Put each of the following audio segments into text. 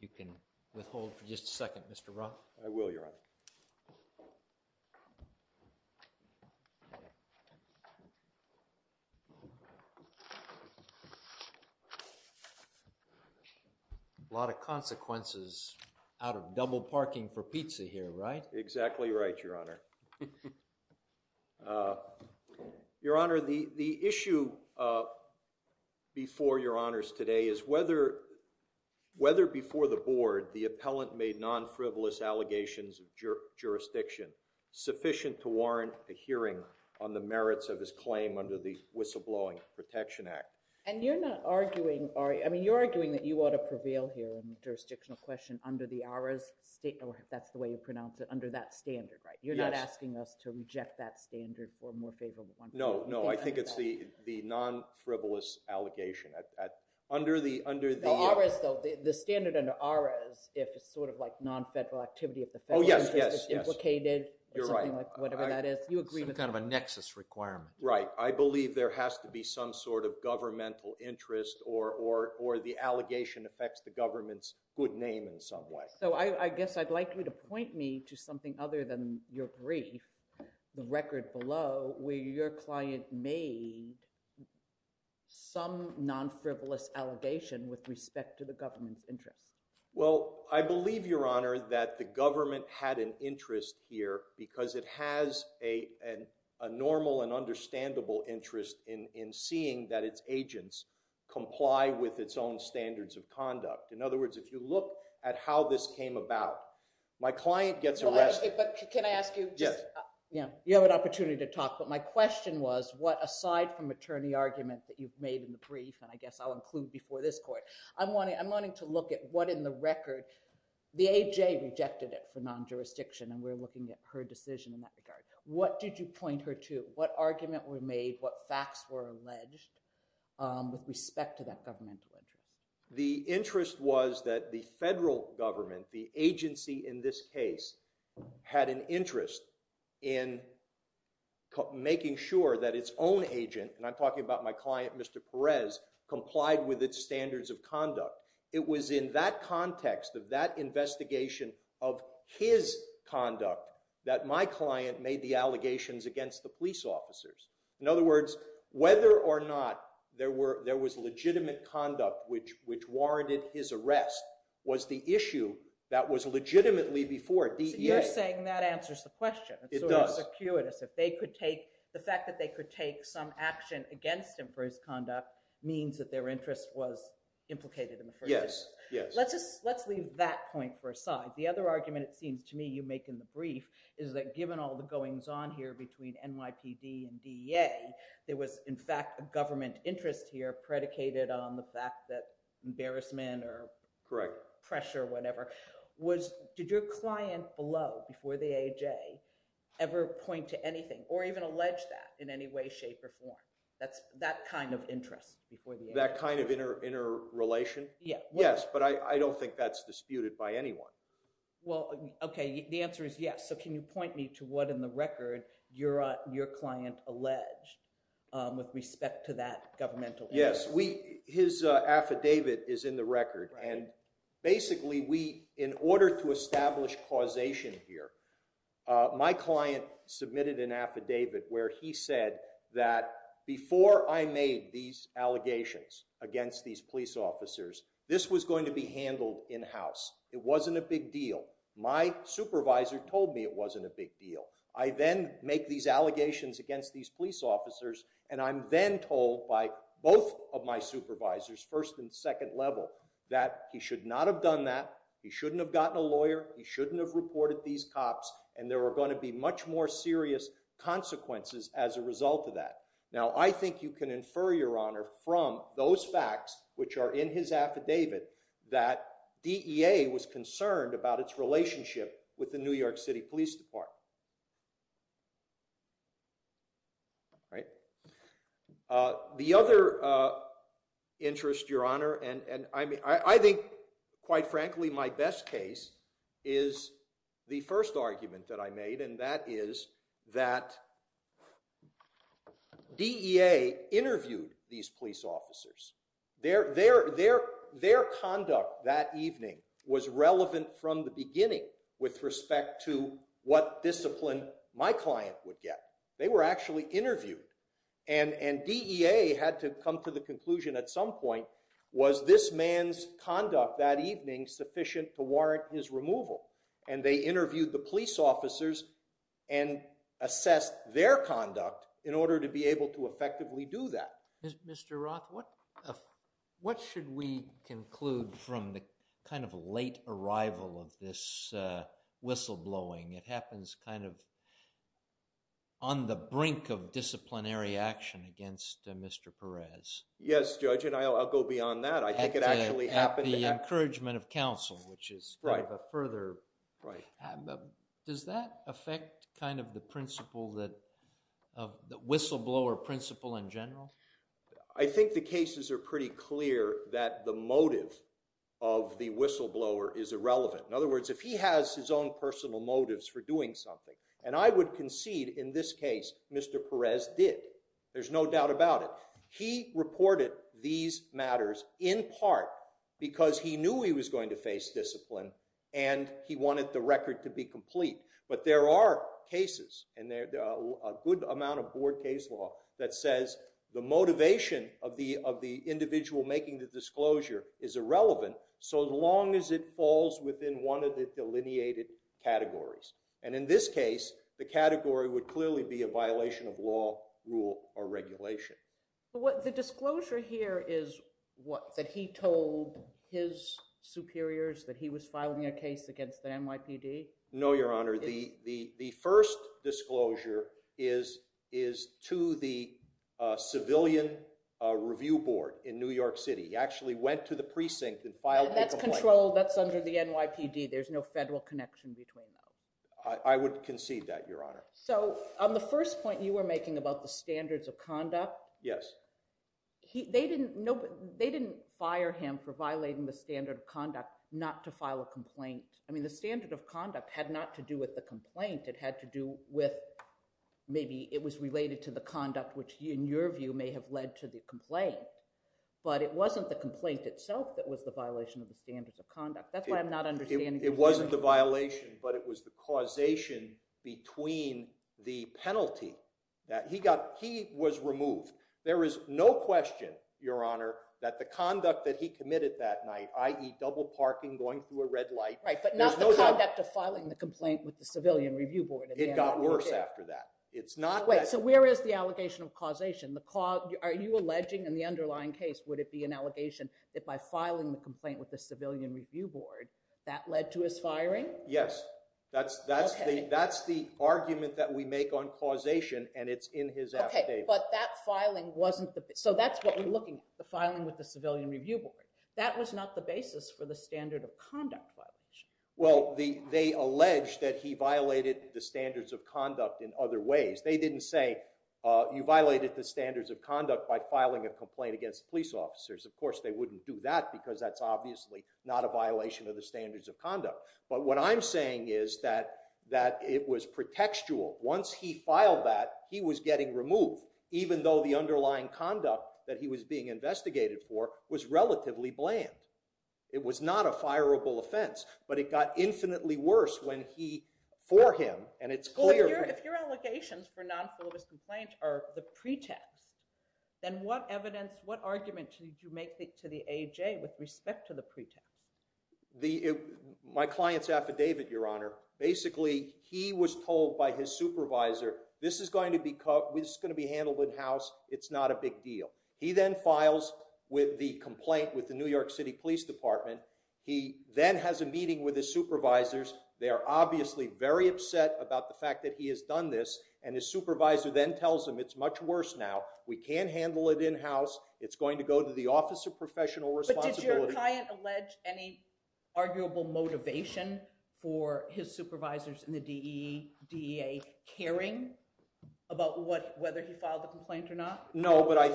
You can withhold for just a second, Mr. Roth. I will, Your Honor. A lot of consequences out of double parking for pizza here, right? Exactly right, Your Honor. Your Honor, the issue before Your Honors today is whether before the board the appellant made non-frivolous allegations of jurisdiction sufficient to warrant a hearing on the merits of his claim under the Whistleblowing Protection Act. And you're not arguing, I mean you're arguing that you ought to prevail here in the jurisdictional question under the ARRA's, that's the way you pronounce it, under that standard, right? You're not asking us to reject that standard for a more favorable one? No, no, I think it's the non-frivolous allegation. Under the— No, ARRA's though, the standard under ARRA's if it's sort of like non-federal activity of the federal interest— Oh, yes, yes, yes. —if it's implicated— You're right. —or something like whatever that is. You agree with— Some kind of a nexus requirement. Right. I believe there has to be some sort of governmental interest or the allegation affects the government's good name in some way. So I guess I'd like you to point me to something other than your brief, the record below, where your client made some non-frivolous allegation with respect to the government's interest. Well, I believe, Your Honor, that the government had an interest here because it has a normal and understandable interest in seeing that its agents comply with its own standards of conduct. In other words, if you look at how this came about, my client gets arrested— But can I ask you— Yes. Yeah. You have an opportunity to talk, but my question was, what, aside from attorney argument that you've made in the brief, and I guess I'll include before this court, I'm wanting to look at what in the record— the AJ rejected it for non-jurisdiction, and we're looking at her decision in that regard. What did you point her to? What argument were made? What facts were alleged with respect to that governmental interest? The interest was that the federal government, the agency in this case, had an interest in making sure that its own agent— and I'm talking about my client, Mr. Perez— complied with its standards of conduct. It was in that context of that investigation of his conduct that my client made the allegations against the police officers. In other words, whether or not there was legitimate conduct which warranted his arrest was the issue that was legitimately before DEA— So you're saying that answers the question. It does. It's sort of circuitous. If they could take— the fact that they could take some action against him for his conduct means that their interest was implicated in the first place. Yes. Let's leave that point for aside. The other argument, it seems to me, you make in the brief is that given all the goings on here between NYPD and DEA, there was, in fact, a government interest here predicated on the fact that embarrassment or pressure or whatever. Did your client below, before the AJ, ever point to anything or even allege that in any way, shape, or form? That kind of interest before the AJ? That kind of interrelation? Yes. But I don't think that's disputed by anyone. Well, okay. The answer is yes. So can you point me to what in the record your client alleged with respect to that governmental interest? Yes. His affidavit is in the record. And basically, in order to establish causation here, my client submitted an affidavit where he said that before I made these allegations against these police officers, this was going to be handled in-house. It wasn't a big deal. My supervisor told me it wasn't a big deal. I then make these allegations against these police officers. And I'm then told by both of my supervisors, first and second level, that he should not have done that. He shouldn't have gotten a lawyer. He shouldn't have reported these cops. And there were going to be much more serious consequences as a result of that. Now, I think you can infer, Your Honor, from those facts, which are in his affidavit, that with the New York City Police Department. The other interest, Your Honor, and I think, quite frankly, my best case is the first argument that I made. And that is that DEA interviewed these police officers. Their conduct that evening was relevant from the beginning with respect to what discipline my client would get. They were actually interviewed. And DEA had to come to the conclusion at some point, was this man's conduct that evening sufficient to warrant his removal? And they interviewed the police officers and assessed their conduct in order to be able to effectively do that. Mr. Roth, what should we conclude from the kind of late arrival of this whistleblowing? It happens kind of on the brink of disciplinary action against Mr. Perez. Yes, Judge, and I'll go beyond that. I think it actually happened. At the encouragement of counsel, which is kind of a further... I think the cases are pretty clear that the motive of the whistleblower is irrelevant. In other words, if he has his own personal motives for doing something, and I would concede in this case, Mr. Perez did. There's no doubt about it. He reported these matters in part because he knew he was going to face discipline and he wanted the record to be complete. But there are cases, and there are a good amount of board case law that says the motivation of the individual making the disclosure is irrelevant so long as it falls within one of the delineated categories. And in this case, the category would clearly be a violation of law, rule, or regulation. The disclosure here is what, that he told his superiors that he was filing a case against the NYPD? No, Your Honor. The first disclosure is to the civilian review board in New York City. He actually went to the precinct and filed a complaint. That's controlled. That's under the NYPD. There's no federal connection between those. I would concede that, Your Honor. So on the first point you were making about the standards of conduct... Yes. They didn't fire him for violating the standard of conduct not to file a complaint. The standard of conduct had not to do with the complaint. It had to do with, maybe it was related to the conduct, which in your view may have led to the complaint. But it wasn't the complaint itself that was the violation of the standards of conduct. That's why I'm not understanding... It wasn't the violation, but it was the causation between the penalty that he got. He was removed. There is no question, Your Honor, that the conduct that he committed that night, i.e. double parking, going through a red light... Right, but not the conduct of filing the complaint with the civilian review board at the NYPD. It got worse after that. It's not that... Wait, so where is the allegation of causation? Are you alleging in the underlying case, would it be an allegation that by filing the complaint with the civilian review board, that led to his firing? Yes. That's the argument that we make on causation, and it's in his affidavit. Okay, but that filing wasn't the... So that's what we're looking at, the filing with the civilian review board. That was not the basis for the standard of conduct violation. Well, they allege that he violated the standards of conduct in other ways. They didn't say, you violated the standards of conduct by filing a complaint against police officers. Of course, they wouldn't do that, because that's obviously not a violation of the standards of conduct. But what I'm saying is that it was pretextual. Once he filed that, he was getting removed, even though the underlying conduct that he was being investigated for was relatively bland. It was not a fireable offense, but it got infinitely worse when he, for him, and it's clear... Well, if your allegations for non-filibus complaint are the pretext, then what evidence, what argument did you make to the AJ with respect to the pretext? My client's affidavit, Your Honor, basically he was told by his supervisor, this is going to be handled in-house, it's not a big deal. He then files with the complaint with the New York City Police Department. He then has a meeting with his supervisors. They are obviously very upset about the fact that he has done this, and his supervisor then tells him, it's much worse now. We can't handle it in-house. It's going to go to the Office of Professional Responsibility. But did your client allege any arguable motivation for his supervisors in the DEA caring about whether he filed the complaint or not? No, but I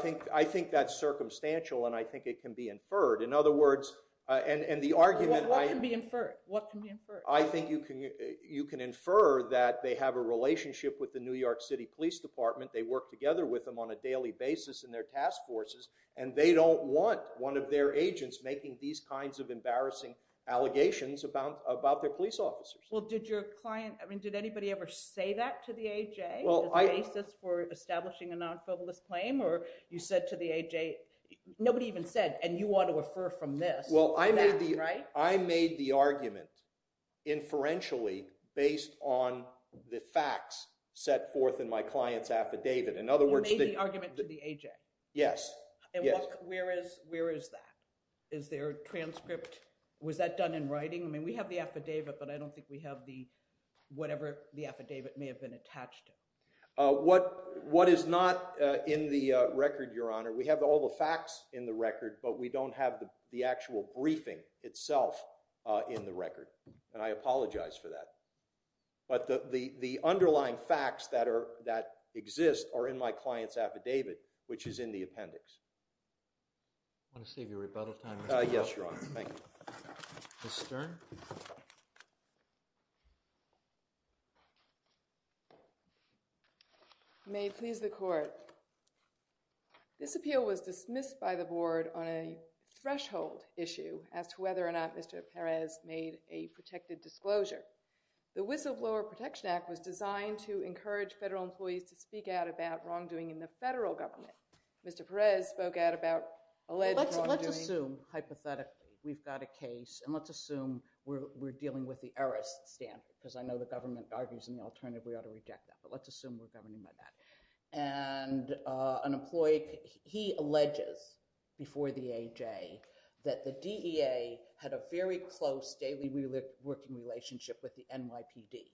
think that's circumstantial, and I think it can be inferred. In other words, and the argument I... What can be inferred? What can be inferred? I think you can infer that they have a relationship with the New York City Police Department. They work together with them on a daily basis in their task forces, and they don't want one of their agents making these kinds of embarrassing allegations about their police officers. Well, did your client... I mean, did anybody ever say that to the AJ as a basis for establishing a non-filibus claim? Or you said to the AJ... Nobody even said, and you ought to refer from this to that, right? I made the argument inferentially based on the facts set forth in my client's affidavit. In other words... You made the argument to the AJ? Yes. Yes. And where is that? Is there a transcript? Was that done in writing? I mean, we have the affidavit, but I don't think we have the... Whatever the affidavit may have been attached to. What is not in the record, Your Honor, we have all the facts in the record, but we don't have the actual briefing itself in the record, and I apologize for that. But the underlying facts that exist are in my client's affidavit, which is in the appendix. I want to save your rebuttal time, Mr. Giroir. Yes, Your Honor. Thank you. Ms. Stern? May it please the Court. This appeal was dismissed by the Board on a threshold issue as to whether or not Mr. Perez made a protected disclosure. The Whistleblower Protection Act was designed to encourage federal employees to speak out about wrongdoing in the federal government. Mr. Perez spoke out about alleged wrongdoing... Let's assume, hypothetically, we've got a case, and let's assume we're dealing with the heiress standard, because I know the government argues in the alternative we ought to reject that, but let's assume we're governing by that. And an employee, he alleges before the AJ that the DEA had a very close daily working relationship with the NYPD.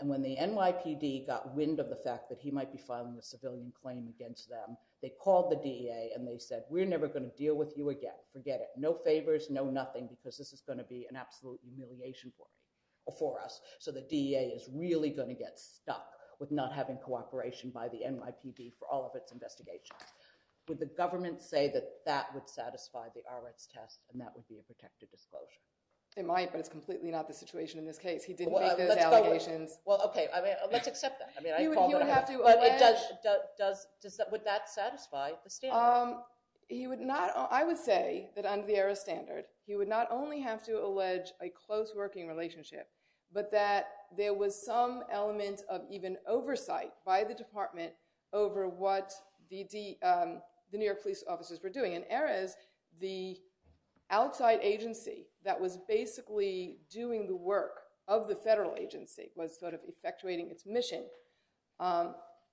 And when the NYPD got wind of the fact that he might be filing a civilian claim against them, they called the DEA and they said, we're never going to deal with you again. Forget it. No favors, no nothing, because this is going to be an absolute humiliation for us. So the DEA is really going to get stuck with not having cooperation by the NYPD for all of its investigations. Would the government say that that would satisfy the Rx test and that would be a protected disclosure? They might, but it's completely not the situation in this case. He didn't make those allegations. Well, okay. I mean, let's accept that. I mean, I'd call it a... He would have to allege... But it does... Does... Would that satisfy the standard? He would not... I would say that under the heiress standard, he would not only have to allege a close working relationship, but that there was some element of even oversight by the department over what the New York police officers were doing. In heiress, the outside agency that was basically doing the work of the federal agency was sort of effectuating its mission.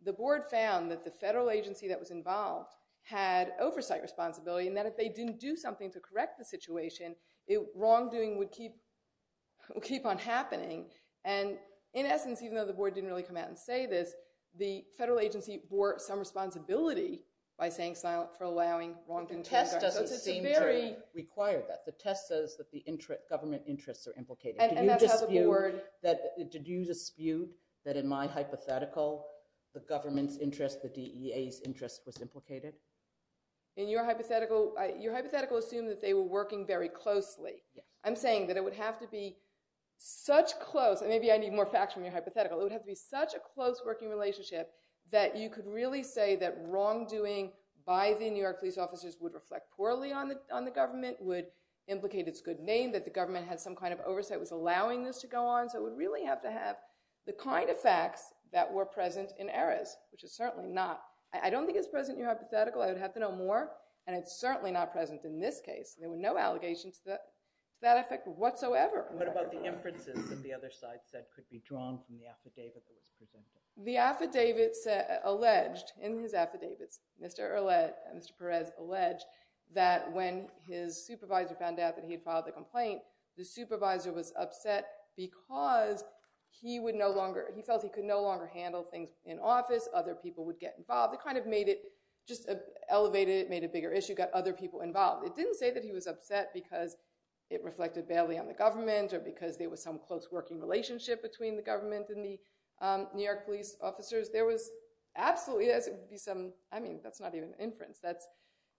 The board found that the federal agency that was involved had oversight responsibility and that if they didn't do something to correct the situation, wrongdoing would keep on happening. And in essence, even though the board didn't really come out and say this, the federal agency bore some responsibility by saying silent for allowing wrongdoing to occur. The test doesn't seem to require that. The test says that the government interests are implicated. And that's how the board... Did you dispute that in my hypothetical, the government's interest, the DEA's interest was implicated? In your hypothetical, your hypothetical assumed that they were working very closely. I'm saying that it would have to be such close, and maybe I need more facts from your hypothetical, it would have to be such a close working relationship that you could really say that wrongdoing by the New York police officers would reflect poorly on the government, would implicate its good name, that the government had some kind of oversight, was allowing this to go on. So it would really have to have the kind of facts that were present in heiress, which is certainly not... I don't think it's present in your hypothetical, I would have to know more, and it's certainly not present in this case. There were no allegations to that effect whatsoever. What about the inferences that the other side said could be drawn from the affidavit that was presented? The affidavits alleged, in his affidavits, Mr. Peres alleged that when his supervisor found out that he had filed the complaint, the supervisor was upset because he would no longer... That kind of made it just elevated, made it a bigger issue, got other people involved. It didn't say that he was upset because it reflected badly on the government, or because there was some close working relationship between the government and the New York police officers. There was absolutely... I mean, that's not even inference, that's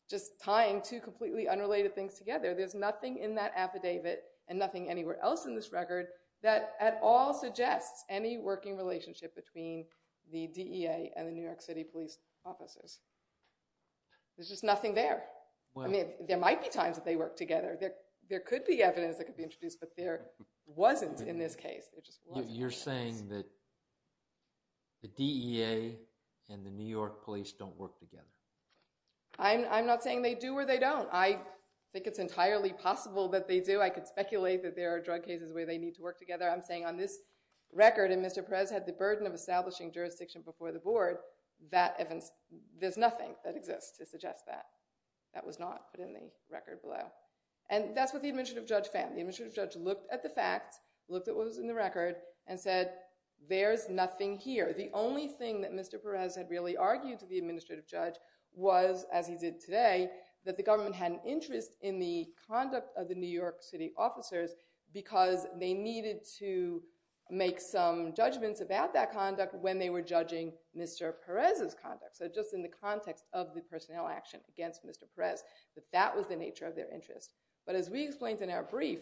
just tying two completely unrelated things together. There's nothing in that affidavit, and nothing anywhere else in this record, that at all There's just nothing there. There might be times that they worked together. There could be evidence that could be introduced, but there wasn't in this case. You're saying that the DEA and the New York police don't work together. I'm not saying they do or they don't. I think it's entirely possible that they do. I could speculate that there are drug cases where they need to work together. I'm saying on this record, and Mr. Peres had the burden of establishing jurisdiction before the board, there's nothing that exists to suggest that. That was not put in the record below. And that's what the administrative judge found. The administrative judge looked at the facts, looked at what was in the record, and said, there's nothing here. The only thing that Mr. Peres had really argued to the administrative judge was, as he did today, that the government had an interest in the conduct of the New York city officers because they needed to make some judgments about that conduct when they were judging Mr. Peres' conduct. So just in the context of the personnel action against Mr. Peres, that that was the nature of their interest. But as we explained in our brief,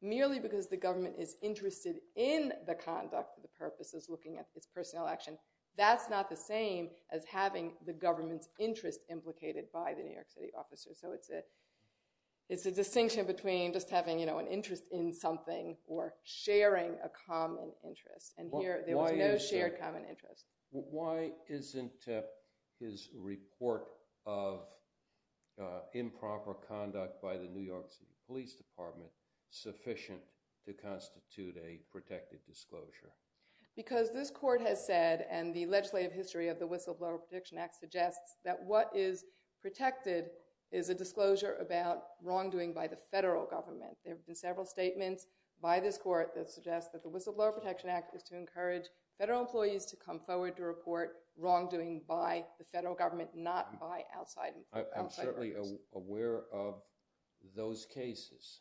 merely because the government is interested in the conduct, the purpose is looking at its personnel action. That's not the same as having the government's interest implicated by the New York city officers. So it's a distinction between just having an interest in something or sharing a common interest. And here, there was no shared common interest. Why isn't his report of improper conduct by the New York city police department sufficient to constitute a protected disclosure? Because this court has said, and the legislative history of the Whistleblower Protection Act suggests, that what is protected is a disclosure about wrongdoing by the federal government. There have been several statements by this court that suggest that the Whistleblower Protection Act is to encourage federal employees to come forward to report wrongdoing by the federal government, not by outside parties. I'm certainly aware of those cases.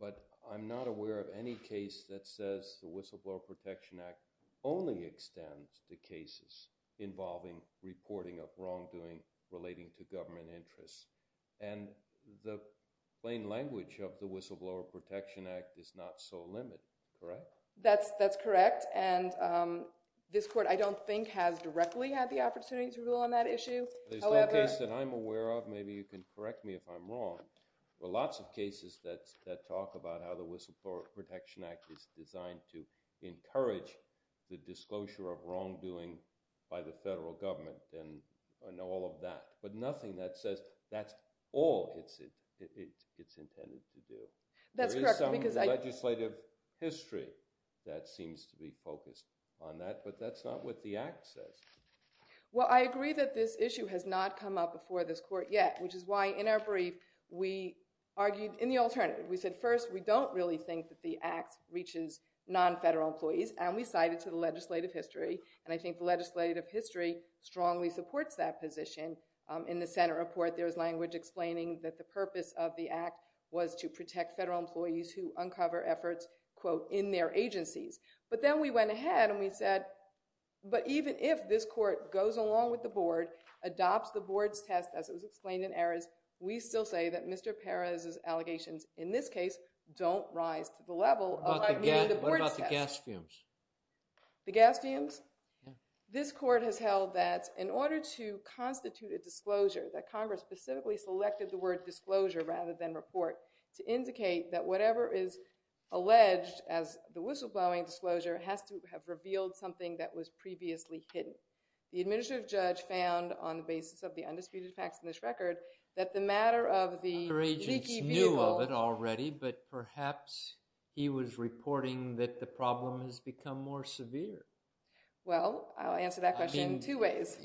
But I'm not aware of any case that says the Whistleblower Protection Act only extends to cases involving reporting of wrongdoing relating to government interests. And the plain language of the Whistleblower Protection Act is not so limited, correct? That's correct. And this court, I don't think, has directly had the opportunity to rule on that issue. There's no case that I'm aware of. Maybe you can correct me if I'm wrong. There are lots of cases that talk about how the Whistleblower Protection Act is designed to encourage the disclosure of wrongdoing by the federal government and all of that. But nothing that says that's all it's intended to do. That's correct. There is some legislative history that seems to be focused on that, but that's not what the Act says. Well, I agree that this issue has not come up before this court yet, which is why in our brief we argued in the alternative. We said, first, we don't really think that the Act reaches non-federal employees, and we cited to the legislative history, and I think the legislative history strongly supports that position. In the Senate report, there was language explaining that the purpose of the Act was to protect federal employees who uncover efforts, quote, in their agencies. But then we went ahead and we said, but even if this court goes along with the board, adopts the board's test as it was explained in Aris, we still say that Mr. Perez's allegations in this case don't rise to the level of admitting the board's test. What about the gas fumes? The gas fumes? Yeah. This court has held that in order to constitute a disclosure, that Congress specifically selected the word disclosure rather than report to indicate that whatever is alleged as the whistleblowing disclosure has to have revealed something that was previously hidden. The administrative judge found on the basis of the undisputed facts in this record that the matter of the leaky vehicle— Other agents knew of it already, but perhaps he was reporting that the problem has become more severe. Well, I'll answer that question in two ways.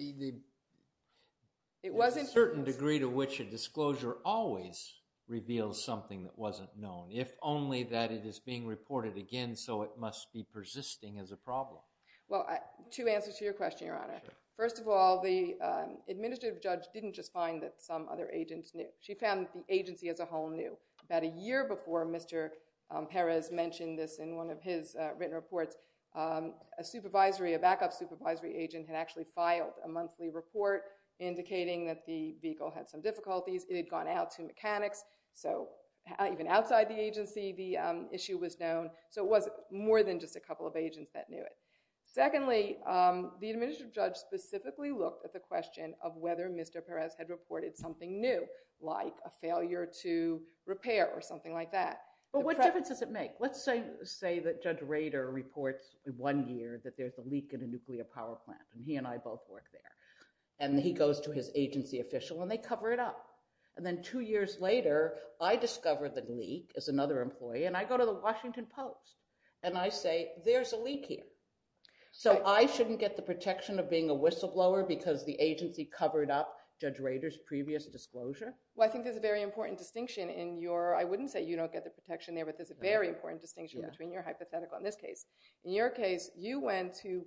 It wasn't— A certain degree to which a disclosure always reveals something that wasn't known, if only that it is being reported again, so it must be persisting as a problem. Well, two answers to your question, Your Honor. First of all, the administrative judge didn't just find that some other agents knew. She found that the agency as a whole knew that a year before Mr. Perez mentioned this in one of his written reports, a supervisory, a backup supervisory agent had actually filed a monthly report indicating that the vehicle had some difficulties. It had gone out to mechanics, so even outside the agency, the issue was known. So it was more than just a couple of agents that knew it. Secondly, the administrative judge specifically looked at the question of whether Mr. Perez had reported something new, like a failure to repair or something like that. But what difference does it make? Let's say that Judge Rader reports one year that there's a leak in a nuclear power plant, and he and I both work there. And he goes to his agency official and they cover it up. And then two years later, I discover the leak as another employee, and I go to the Washington Post. And I say, there's a leak here. So I shouldn't get the protection of being a whistleblower because the agency covered up Judge Rader's previous disclosure? Well, I think there's a very important distinction in your, I wouldn't say you don't get the protection there, but there's a very important distinction between your hypothetical and this case. In your case, you went to,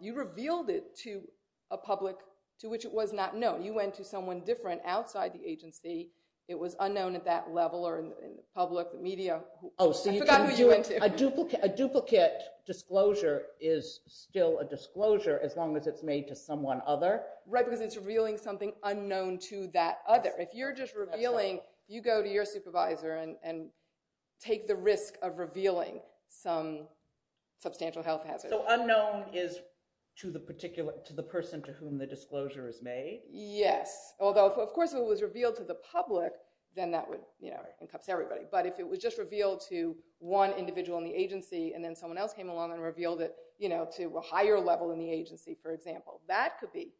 you revealed it to a public to which it was not known. You went to someone different outside the agency. It was unknown at that level or in the public, the media. Oh, so you can do it, a duplicate disclosure is still a disclosure as long as it's made to someone other? Right, because it's revealing something unknown to that other. If you're just revealing, you go to your supervisor and take the risk of revealing some substantial health hazard. So unknown is to the person to whom the disclosure is made? Yes. Although, of course, if it was revealed to the public, then that would, you know, it encapsulates everybody. But if it was just revealed to one individual in the agency and then someone else came along and revealed it, you know, to a higher level in the agency, for example, that could be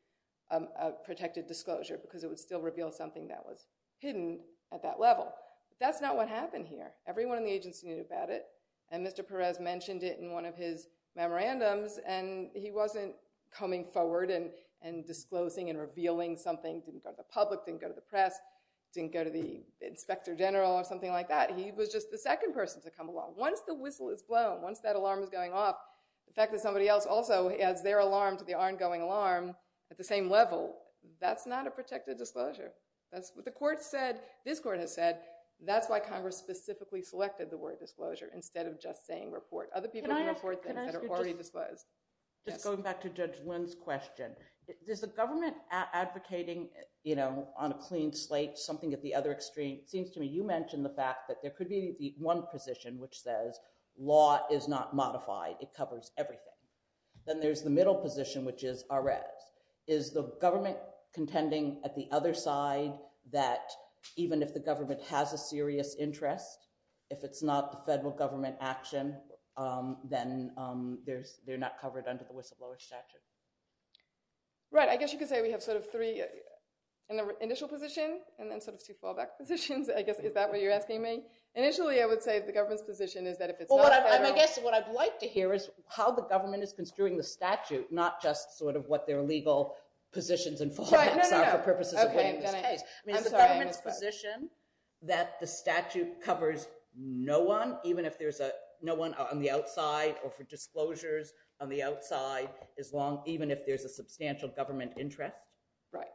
a protected disclosure because it would still reveal something that was hidden at that level. That's not what happened here. Everyone in the agency knew about it and Mr. Perez mentioned it in one of his memorandums and he wasn't coming forward and disclosing and revealing something, didn't go to the whistle or something like that. He was just the second person to come along. Once the whistle is blown, once that alarm is going off, the fact that somebody else also adds their alarm to the ongoing alarm at the same level, that's not a protected disclosure. That's what the court said, this court has said, that's why Congress specifically selected the word disclosure instead of just saying report. Other people report things that are already disclosed. Just going back to Judge Lynn's question, is the government advocating, you know, on a clean slate, something at the other extreme? It seems to me you mentioned the fact that there could be the one position which says law is not modified, it covers everything. Then there's the middle position which is Arez. Is the government contending at the other side that even if the government has a serious interest, if it's not the federal government action, then they're not covered under the whistleblower statute? Right. I guess you could say we have sort of three, an initial position and then sort of two fallback positions. I guess is that what you're asking me? Initially, I would say the government's position is that if it's not federal. Well, I guess what I'd like to hear is how the government is construing the statute, not just sort of what their legal positions and fallbacks are for purposes of winning this case. I mean, the government's position that the statute covers no one, even if there's no one on the outside or for disclosures on the outside, even if there's a substantial government interest. Right.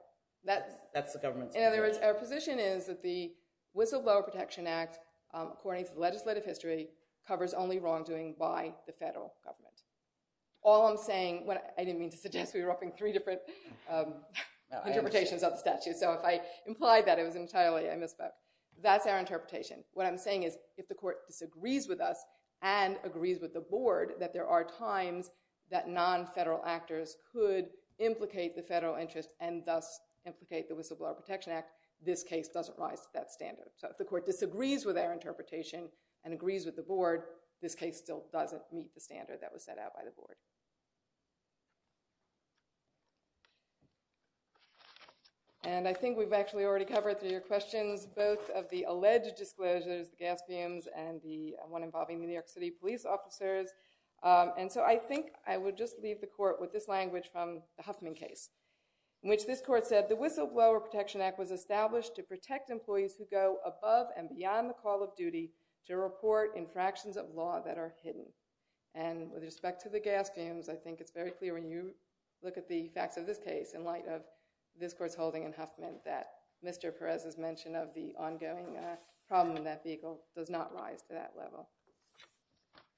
That's the government's position. In other words, our position is that the Whistleblower Protection Act, according to legislative history, covers only wrongdoing by the federal government. All I'm saying, I didn't mean to suggest we were offering three different interpretations of the statute. So if I implied that it was entirely, I misspoke. That's our interpretation. What I'm saying is if the court disagrees with us and agrees with the board that there are times that non-federal actors could implicate the federal interest and thus implicate the Whistleblower Protection Act, this case doesn't rise to that standard. So if the court disagrees with our interpretation and agrees with the board, this case still doesn't meet the standard that was set out by the board. And I think we've actually already covered through your questions both of the alleged disclosures, the gas fumes, and the one involving the New York City police officers. And so I think I would just leave the court with this language from the Huffman case, in which this court said, the Whistleblower Protection Act was established to protect employees who go above and beyond the call of duty to report infractions of law that are hidden. And with respect to the gas fumes, I think it's very clear when you look at the facts of this case in light of this court's holding in Huffman that Mr. Perez's mention of the problem in that vehicle does not rise to that level.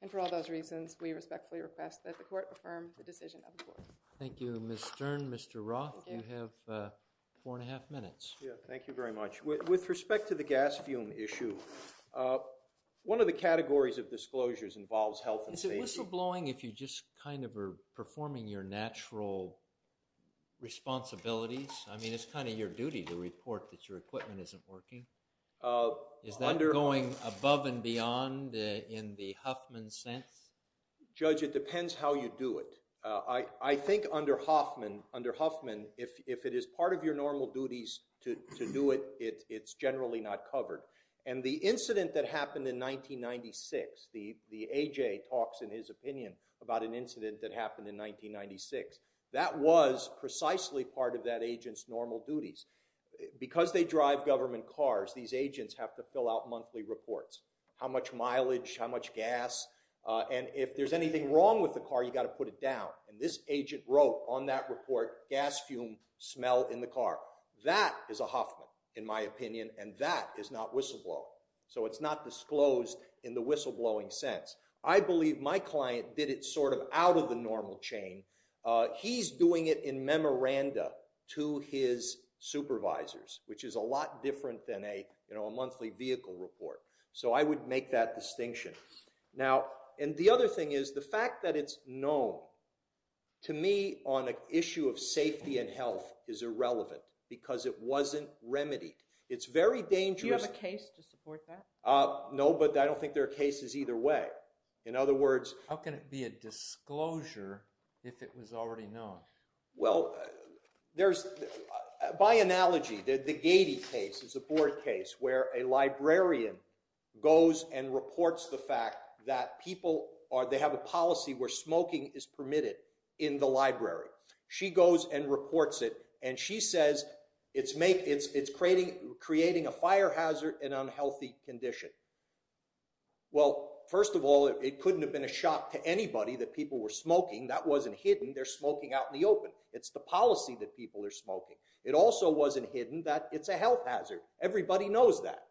And for all those reasons, we respectfully request that the court affirm the decision of the court. Thank you. Ms. Stern, Mr. Roth, you have four and a half minutes. Thank you very much. With respect to the gas fume issue, one of the categories of disclosures involves health and safety. Is it whistleblowing if you just kind of are performing your natural responsibilities? I mean, it's kind of your duty to report that your equipment isn't working. Is that going above and beyond in the Huffman sense? Judge, it depends how you do it. I think under Huffman, if it is part of your normal duties to do it, it's generally not covered. And the incident that happened in 1996, the A.J. talks in his opinion about an incident that happened in 1996, that was precisely part of that agent's normal duties. Because they drive government cars, these agents have to fill out monthly reports. How much mileage, how much gas, and if there's anything wrong with the car, you've got to put it down. And this agent wrote on that report, gas fume, smell in the car. That is a Huffman, in my opinion, and that is not whistleblowing. So it's not disclosed in the whistleblowing sense. I believe my client did it sort of out of the normal chain. He's doing it in memoranda to his supervisors, which is a lot different than a monthly vehicle report. So I would make that distinction. And the other thing is, the fact that it's known, to me, on an issue of safety and health is irrelevant, because it wasn't remedied. It's very dangerous. Do you have a case to support that? No, but I don't think there are cases either way. In other words... How can it be a disclosure if it was already known? Well, there's... By analogy, the Gady case is a board case where a librarian goes and reports the fact that people, or they have a policy where smoking is permitted in the library. She goes and reports it, and she says it's creating a fire hazard and unhealthy condition. Well, first of all, it couldn't have been a shock to anybody that people were smoking. That wasn't hidden. They're smoking out in the open. It's the policy that people are smoking. It also wasn't hidden that it's a health hazard. Everybody knows that.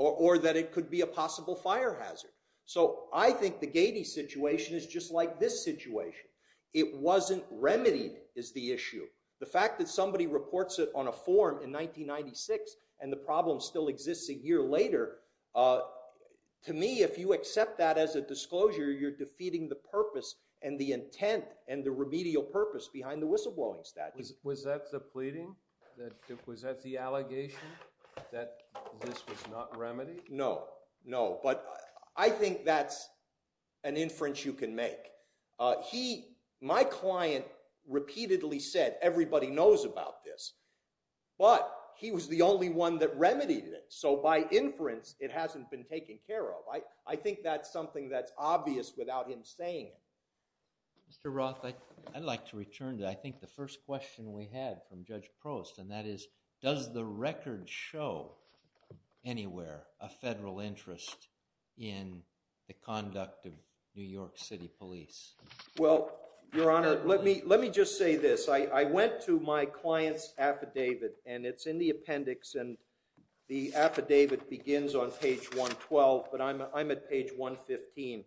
Or that it could be a possible fire hazard. So I think the Gady situation is just like this situation. It wasn't remedied, is the issue. The fact that somebody reports it on a form in 1996 and the problem still exists a year later, to me, if you accept that as a disclosure, you're defeating the purpose and the intent and the remedial purpose behind the whistleblowing statute. Was that the pleading? Was that the allegation that this was not remedied? No. No. But I think that's an inference you can make. He, my client, repeatedly said, everybody knows about this. But he was the only one that remedied it. So by inference, it hasn't been taken care of. I think that's something that's obvious without him saying it. Mr. Roth, I'd like to return to, I think, the first question we had from Judge Prost, and that is, does the record show anywhere a federal interest in the conduct of New York City Police? Well, Your Honor, let me just say this. I went to my client's affidavit, and it's in the appendix, and the affidavit begins on page 112, but I'm at page 115.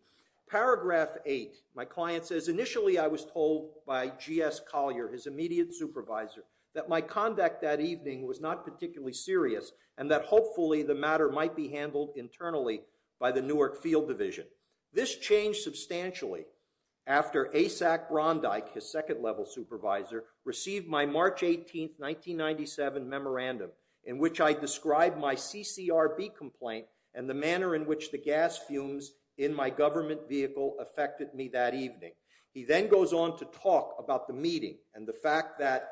Paragraph 8. My client says, initially, I was told by G.S. Collier, his immediate supervisor, that my conduct that evening was not particularly serious and that hopefully the matter might be handled internally by the Newark Field Division. This changed substantially after ASAC Rondike, his second-level supervisor, received my March 18, 1997 memorandum in which I described my CCRB complaint and the manner in which the gas fumes in my government vehicle affected me that evening. He then goes on to talk about the meeting and the fact that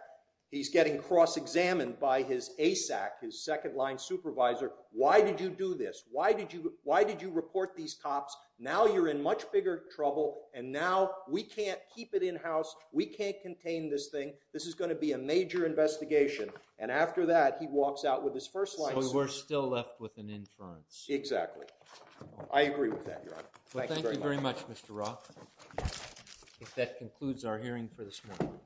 he's getting cross-examined by his ASAC, his second-line supervisor. Why did you do this? Why did you report these cops? Now you're in much bigger trouble, and now we can't keep it in-house. We can't contain this thing. This is going to be a major investigation. And after that, he walks out with his first-line supervisor. So we're still left with an inference. Exactly. I agree with that, Your Honor. Thank you very much. Well, thank you very much, Mr. Roth. That concludes our hearing for this morning.